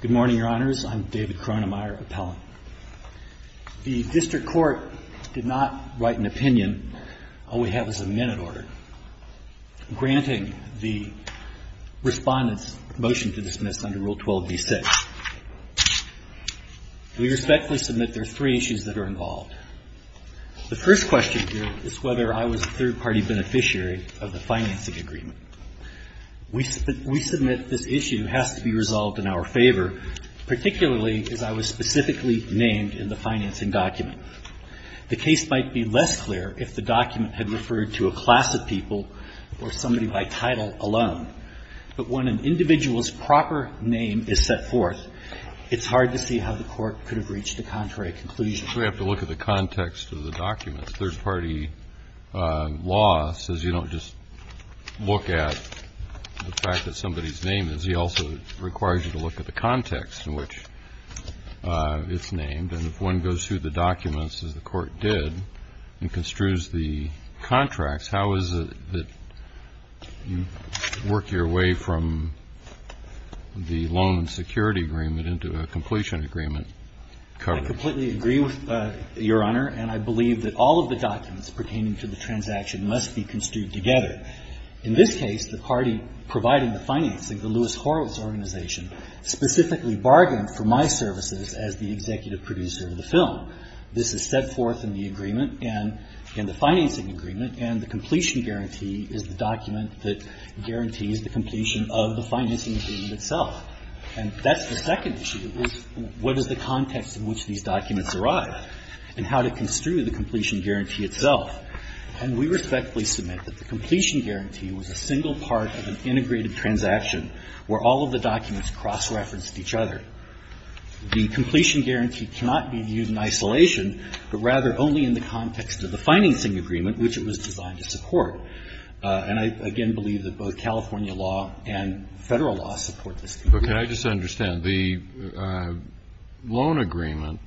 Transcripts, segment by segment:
Good morning, Your Honors. I'm David Kronemyer, appellant. The district court did not write an opinion. All we have is a minute order, granting the respondent's motion to dismiss under Rule 12d6. We respectfully submit there are three issues that are involved. The first question here is whether I was a third party beneficiary of the financing agreement. We submit this issue has to be resolved in our favor, particularly as I was specifically named in the financing document. The case might be less clear if the document had referred to a class of people or somebody by title alone. But when an individual's proper name is set forth, it's hard to see how the court could have reached a contrary conclusion. So we have to look at the context of the documents. Third party law says you don't just look at the fact that somebody's name is. He also requires you to look at the context in which it's named. And if one goes through the documents, as the court did, and construes the contracts, how is it that you work your way from the loan and security agreement into a completion agreement coverage? I completely agree with Your Honor, and I believe that all of the documents pertaining to the transaction must be construed together. In this case, the party providing the financing, the Lewis Horowitz Organization, specifically bargained for my services as the executive producer of the film. This is set forth in the agreement and in the financing agreement, and the completion guarantee is the document that guarantees the completion of the financing agreement And that's the second issue, is what is the context in which these documents arrive and how to construe the completion guarantee itself. And we respectfully submit that the completion guarantee was a single part of an integrated transaction where all of the documents cross-referenced each other. The completion guarantee cannot be viewed in isolation, but rather only in the context of the financing agreement, which it was designed to support. And I, again, believe that both California law and federal law support this. But can I just understand, the loan agreement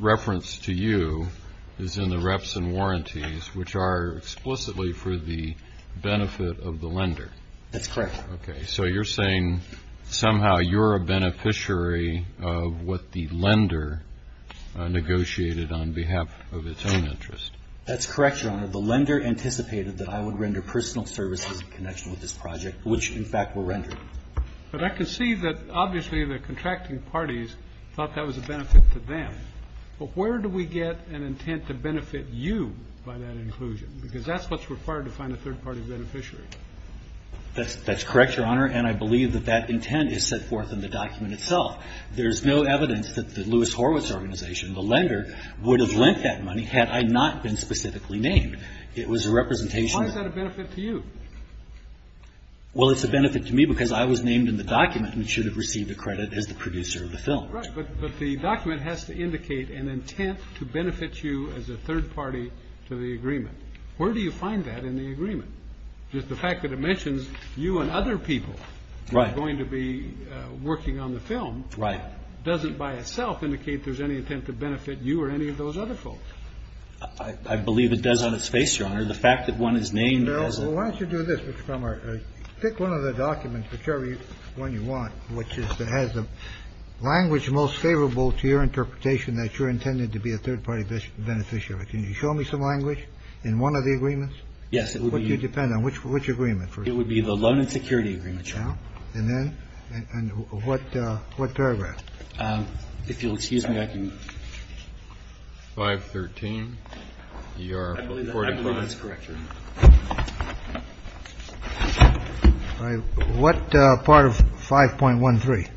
referenced to you is in the reps and warranties, which are explicitly for the benefit of the lender. That's correct. Okay. So you're saying somehow you're a beneficiary of what the lender negotiated on behalf of its own interest. That's correct, Your Honor. The lender anticipated that I would render personal services in connection with this project, which, in fact, were rendered. But I can see that, obviously, the contracting parties thought that was a benefit to them. But where do we get an intent to benefit you by that inclusion? Because that's what's required to find a third-party beneficiary. That's correct, Your Honor. And I believe that that intent is set forth in the document itself. There's no evidence that the Lewis Horwitz Organization, the lender, would have lent that money had I not been specifically named. It was a representation of… Why is that a benefit to you? Well, it's a benefit to me because I was named in the document and should have received the credit as the producer of the film. Right. But the document has to indicate an intent to benefit you as a third party to the agreement. Where do you find that in the agreement? The fact that it mentions you and other people… Right. …who are going to be working on the film… Right. …doesn't by itself indicate there's any intent to benefit you or any of those other folks. I believe it does on its face, Your Honor. The fact that one is named as a… Why don't you do this, Mr. Kramer. Pick one of the documents, whichever one you want, which has the language most favorable to your interpretation that you're intended to be a third-party beneficiary. Can you show me some language in one of the agreements? Yes, it would be… What do you depend on? Which agreement? It would be the loan and security agreement, Your Honor. And then? And what paragraph? If you'll excuse me, I can… I believe that's correct, Your Honor. All right. What part of 5.13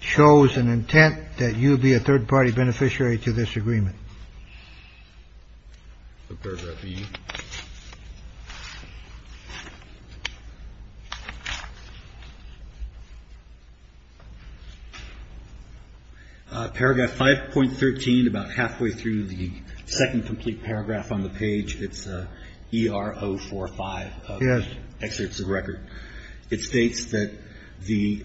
shows an intent that you would be a third-party beneficiary to this agreement? Paragraph B. Paragraph 5.13, about halfway through the second complete paragraph on the page. It's ER 045 of… Yes. …Excerpts of Record. It states that the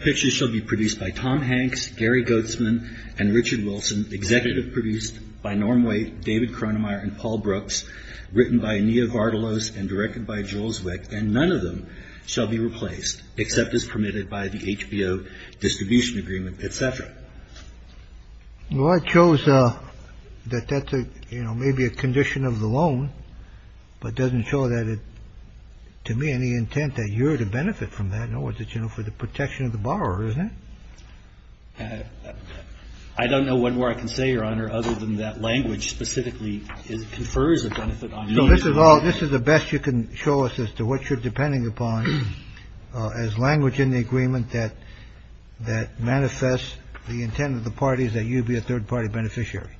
pictures shall be produced by Tom Hanks, Gary Goetzman, and Richard Wilson, executive produced by Norm Waite, David Cronemeyer, and Paul Brooks, written by Ania Vardalos and directed by Jules Wick, and none of them shall be replaced except as permitted by the HBO distribution agreement, etc. Well, it shows that that's a, you know, maybe a condition of the loan, but doesn't show that it, to me, any intent that you're to benefit from that, nor is it, you know, for the protection of the borrower, is it? I don't know one more I can say, Your Honor, other than that language specifically confers a benefit on… No, this is all, this is the best you can show us as to what you're depending upon as language in the agreement that manifests the intent of the parties that you'd be a third-party beneficiary.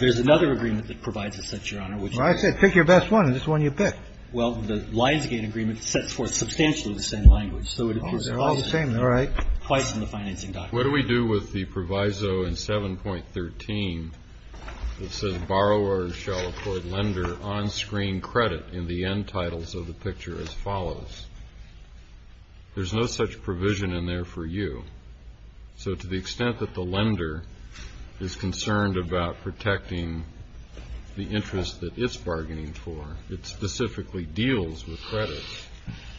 There's another agreement that provides a sense, Your Honor, which is… I said pick your best one, and this is the one you picked. Well, the Lionsgate agreement sets forth substantially the same language, so it appears that… Oh, they're all the same, all right. Twice in the financing document. What do we do with the proviso in 7.13 that says borrowers shall afford lender on-screen credit in the end titles of the picture as follows? There's no such provision in there for you, so to the extent that the lender is concerned about protecting the interest that it's bargaining for, it specifically deals with credit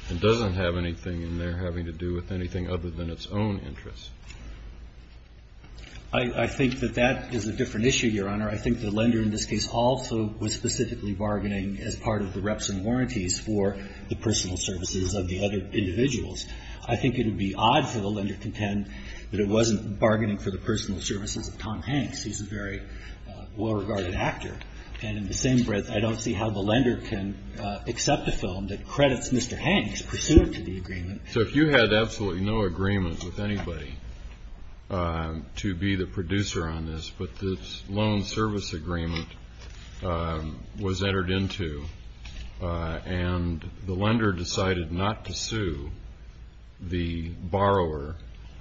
and doesn't have anything in there having to do with anything other than its own interest. I think that that is a different issue, Your Honor. I think the lender in this case also was specifically bargaining as part of the reps and warranties for the personal services of the other individuals. I think it would be odd for the lender to contend that it wasn't bargaining for the personal services of Tom Hanks. He's a very well-regarded actor. And in the same breath, I don't see how the lender can accept a film that credits Mr. Hanks pursuant to the agreement. So if you had absolutely no agreement with anybody to be the producer on this, but the loan service agreement was entered into and the lender decided not to sue the borrower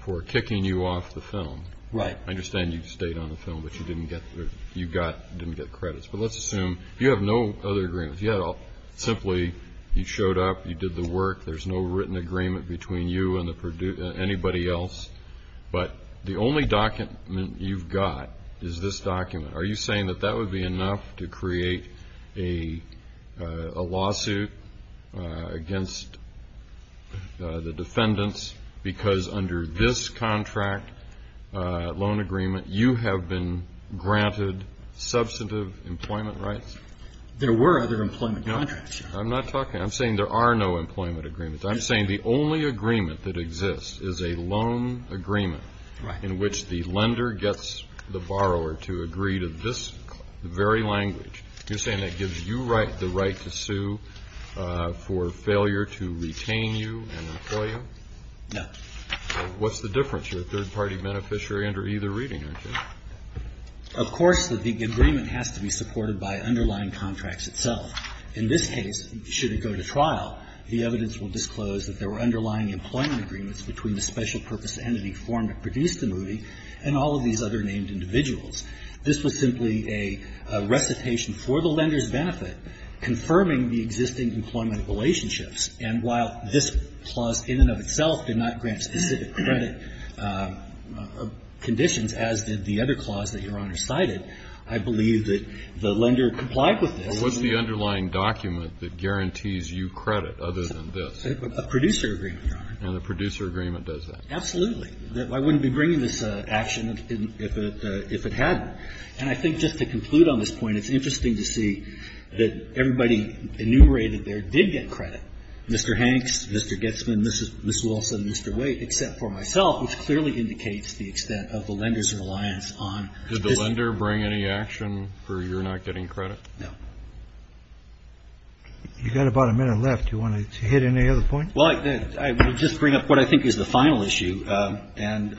for kicking you off the film. Right. I understand you stayed on the film, but you didn't get credits. But let's assume you have no other agreements. Simply, you showed up, you did the work, there's no written agreement between you and anybody else. But the only document you've got is this document. Are you saying that that would be enough to create a lawsuit against the defendants because under this contract loan agreement, you have been granted substantive employment rights? There were other employment contracts, Your Honor. No, I'm not talking to you. I'm saying there are no employment agreements. I'm saying the only agreement that exists is a loan agreement in which the lender gets the borrower to agree to this very language. You're saying that gives you the right to sue for failure to retain you and employ you? No. What's the difference? You're a third-party beneficiary under either reading, aren't you? Of course, the agreement has to be supported by underlying contracts itself. In this case, should it go to trial, the evidence will disclose that there were underlying employment agreements between the special purpose entity formed to produce the movie and all of these other named individuals. This was simply a recitation for the lender's benefit, confirming the existing employment relationships. And while this clause in and of itself did not grant specific credit conditions, as did the other clause that Your Honor cited, I believe that the lender complied with this. What's the underlying document that guarantees you credit other than this? A producer agreement, Your Honor. And the producer agreement does that? Absolutely. I wouldn't be bringing this action if it hadn't. And I think just to conclude on this point, it's interesting to see that everybody enumerated there did get credit, Mr. Hanks, Mr. Getzman, Ms. Wilson, Mr. Waite, except for myself, which clearly indicates the extent of the lender's reliance on this. Did the lender bring any action for your not getting credit? No. You've got about a minute left. Do you want to hit any other points? Well, I would just bring up what I think is the final issue. Can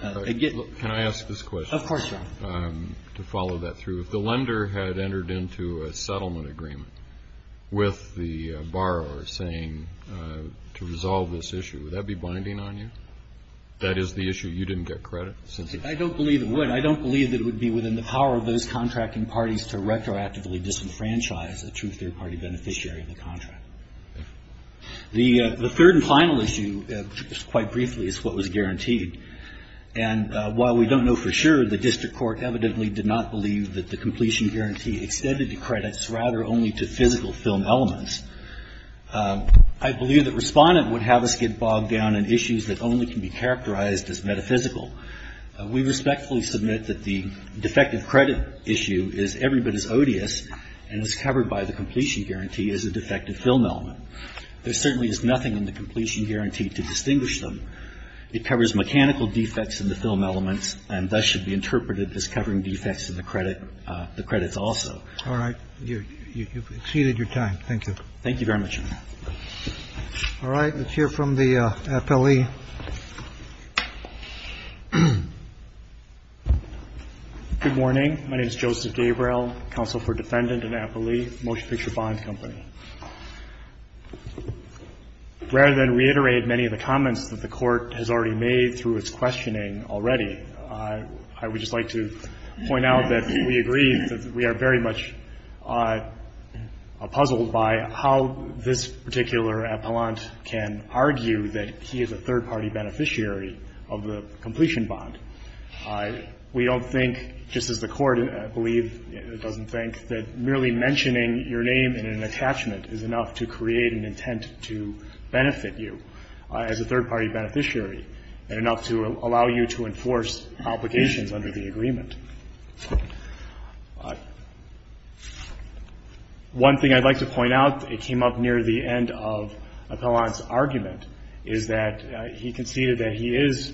I ask this question? Of course, Your Honor. To follow that through. If the lender had entered into a settlement agreement with the borrower saying to resolve this issue, would that be binding on you? That is the issue you didn't get credit? I don't believe it would. I don't believe that it would be within the power of those contracting parties to retroactively disenfranchise a true third-party beneficiary of the contract. The third and final issue, quite briefly, is what was guaranteed. And while we don't know for sure, the district court evidently did not believe that the completion guarantee extended to credits, rather only to physical film elements. I believe that Respondent would have us get bogged down in issues that only can be characterized as metaphysical. We respectfully submit that the defective credit issue is every bit as odious and is covered by the completion guarantee as a defective film element. There certainly is nothing in the completion guarantee to distinguish them. It covers mechanical defects in the film elements and thus should be interpreted as covering defects in the credit also. All right. You've exceeded your time. Thank you. Thank you very much. All right. Let's hear from the appellee. Good morning. My name is Joseph Gabriel, counsel for Defendant and Appellee Motion Picture Bond Company. Rather than reiterate many of the comments that the Court has already made through its questioning already, I would just like to point out that we agree that we are very much puzzled by how this particular appellant can argue that he is a third party beneficiary of the completion bond. We don't think, just as the Court, I believe, doesn't think that merely mentioning your name in an attachment is enough to create an intent to benefit you as a third party beneficiary and enough to allow you to enforce obligations under the agreement. One thing I'd like to point out, it came up near the end of Appellant's argument, is that he conceded that he is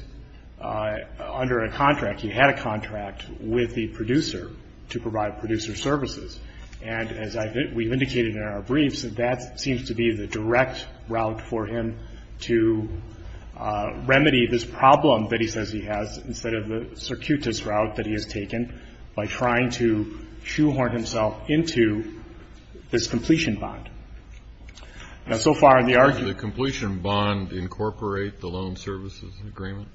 under a contract, he had a contract with the producer to provide producer services. And as we've indicated in our briefs, that seems to be the direct route for him to have taken by trying to shoehorn himself into this completion bond. Now, so far in the argument the completion bond incorporate the loan services agreement?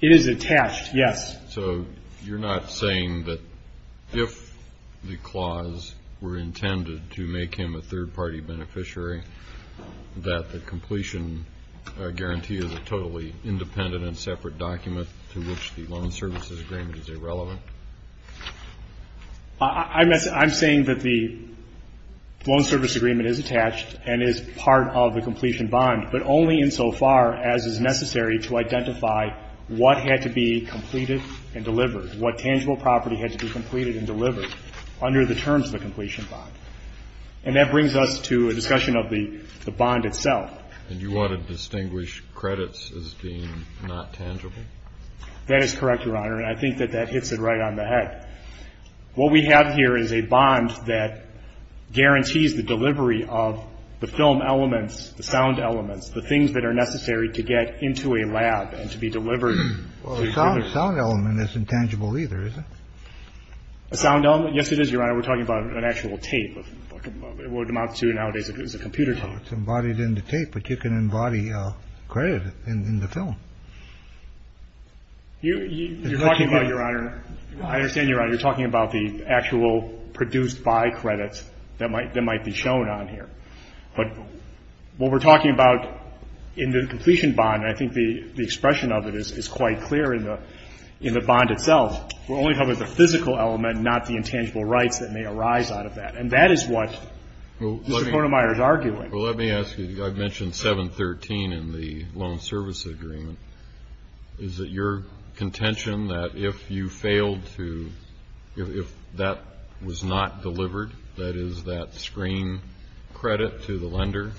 It is attached, yes. So you're not saying that if the clause were intended to make him a third party beneficiary, that the completion guarantee is a totally independent and separate document to which the loan services agreement is irrelevant? I'm saying that the loan service agreement is attached and is part of the completion bond, but only insofar as is necessary to identify what had to be completed and delivered, what tangible property had to be completed and delivered under the terms of the completion bond. And that brings us to a discussion of the bond itself. And you want to distinguish credits as being not tangible? That is correct, Your Honor. And I think that that hits it right on the head. What we have here is a bond that guarantees the delivery of the film elements, the sound elements, the things that are necessary to get into a lab and to be delivered to a jury. Well, a sound element isn't tangible either, is it? A sound element? Yes, it is, Your Honor. We're talking about an actual tape. What it amounts to nowadays is a computer tape. It's embodied in the tape, but you can embody credit in the film. You're talking about, Your Honor, I understand, Your Honor, you're talking about the actual produced by credits that might be shown on here. But what we're talking about in the completion bond, I think the expression of it is quite clear in the bond itself. We're only talking about the physical element, not the intangible rights that may arise out of that. And that is what Mr. Conemeyer is arguing. Well, let me ask you, I mentioned 713 in the loan service agreement. Is it your contention that if you failed to, if that was not delivered, that is, that screen credit to the lender,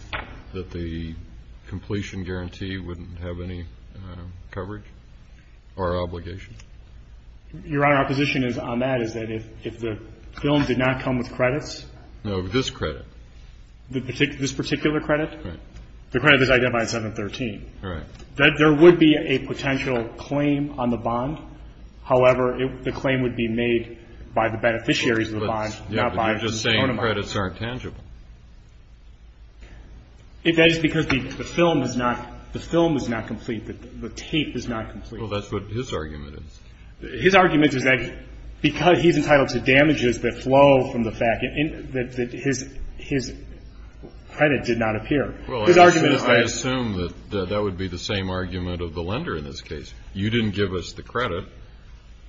that the completion guarantee wouldn't have any coverage or obligation? Your Honor, our position on that is that if the film did not come with credits. No, this credit. This particular credit? Right. The credit that's identified in 713. Right. There would be a potential claim on the bond. However, the claim would be made by the beneficiaries of the bond, not by Mr. Conemeyer. But you're just saying credits aren't tangible. That is because the film is not, the film is not complete. The tape is not complete. Well, that's what his argument is. His argument is that because he's entitled to damages that flow from the fact that his credit did not appear. His argument is that. Well, I assume that that would be the same argument of the lender in this case. You didn't give us the credit.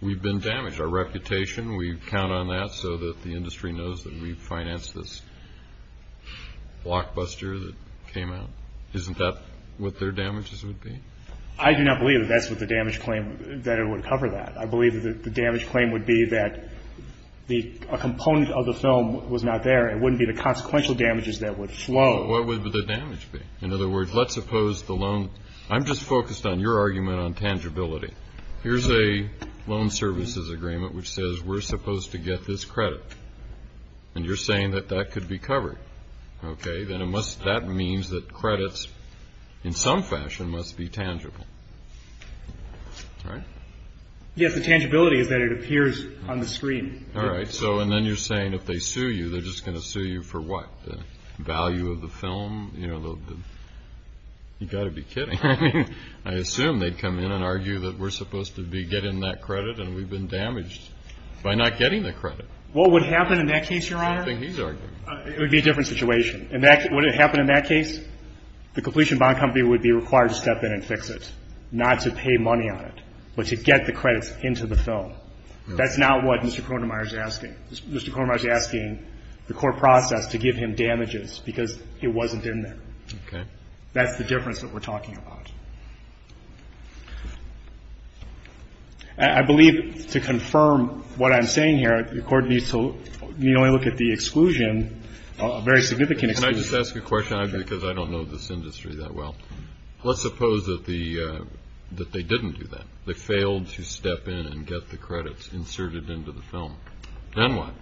We've been damaged. Our reputation, we count on that so that the industry knows that we've financed this blockbuster that came out. Isn't that what their damages would be? I do not believe that that's what the damage claim, that it would cover that. I believe that the damage claim would be that a component of the film was not there. It wouldn't be the consequential damages that would flow. What would the damage be? In other words, let's suppose the loan, I'm just focused on your argument on tangibility. Here's a loan services agreement which says we're supposed to get this credit. And you're saying that that could be covered. Okay. Then it must, that means that credits in some fashion must be tangible. Right? Yes, the tangibility is that it appears on the screen. All right. So and then you're saying if they sue you, they're just going to sue you for what? The value of the film? You know, the, you've got to be kidding. I assume they'd come in and argue that we're supposed to be getting that credit and we've been damaged by not getting the credit. What would happen in that case, Your Honor? I don't think he's arguing. It would be a different situation. Would it happen in that case? The completion bond company would be required to step in and fix it, not to pay money on it, but to get the credits into the film. That's not what Mr. Cronenmeier is asking. Mr. Cronenmeier is asking the court process to give him damages because it wasn't in there. Okay. That's the difference that we're talking about. I believe to confirm what I'm saying here, the court needs to look at the exclusion, a very significant exclusion. Can I just ask a question? Because I don't know this industry that well. Let's suppose that they didn't do that. They failed to step in and get the credits inserted into the film. Then what?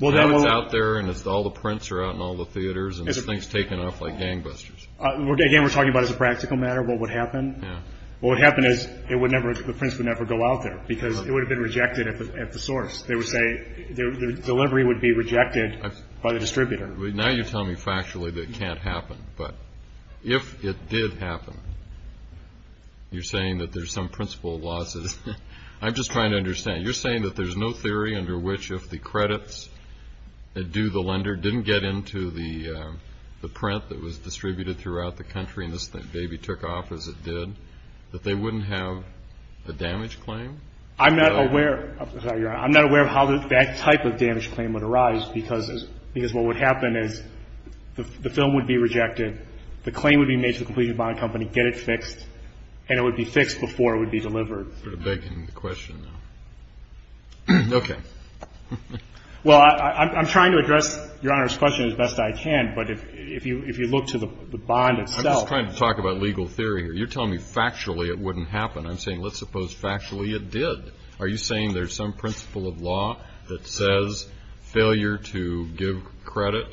Then it's out there and all the prints are out in all the theaters and this thing's taken off like gangbusters. Again, we're talking about as a practical matter what would happen. What would happen is the prints would never go out there because it would have been rejected at the source. They would say the delivery would be rejected by the distributor. Now you're telling me factually that it can't happen. But if it did happen, you're saying that there's some principle of losses. I'm just trying to understand. You're saying that there's no theory under which if the credits do the lender, didn't get into the print that was distributed throughout the country and this baby took off as it did, that they wouldn't have a damage claim? I'm not aware of how that type of damage claim would arise because what would happen is the film would be rejected, the claim would be made to the completion bond company, get it fixed, and it would be fixed before it would be delivered. You're begging the question now. Okay. Well, I'm trying to address Your Honor's question as best I can, but if you look to the bond itself. I'm just trying to talk about legal theory here. You're telling me factually it wouldn't happen. I'm saying let's suppose factually it did. Are you saying there's some principle of law that says failure to give credit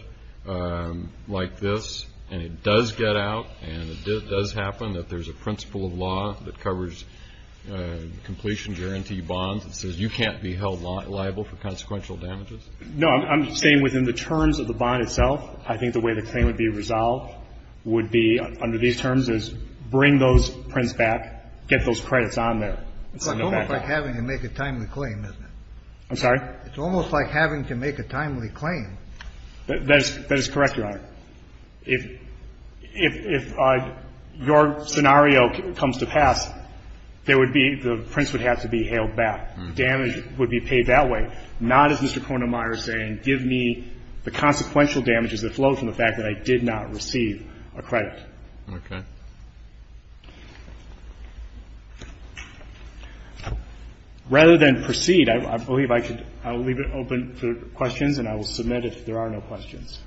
like this and it does get out and it does happen, that there's a principle of law that covers completion guarantee bonds that says you can't be held liable for consequential damages? No, I'm saying within the terms of the bond itself, I think the way the claim would be resolved would be under these terms is bring those prints back, get those credits on there. It's almost like having to make a timely claim, isn't it? I'm sorry? It's almost like having to make a timely claim. That is correct, Your Honor. If your scenario comes to pass, there would be the prints would have to be hailed back. Damage would be paid that way, not as Mr. Kornemeier is saying, give me the consequential damages that flow from the fact that I did not receive a credit. Okay. Rather than proceed, I believe I should leave it open for questions and I will submit it if there are no questions.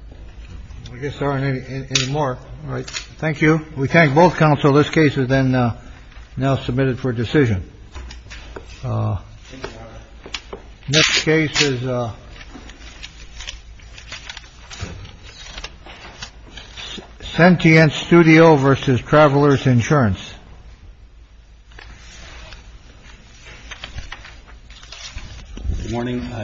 I guess there aren't any more. All right. Thank you. We thank both counsel. This case is then now submitted for decision. This case is sentient studio versus travelers insurance. Morning.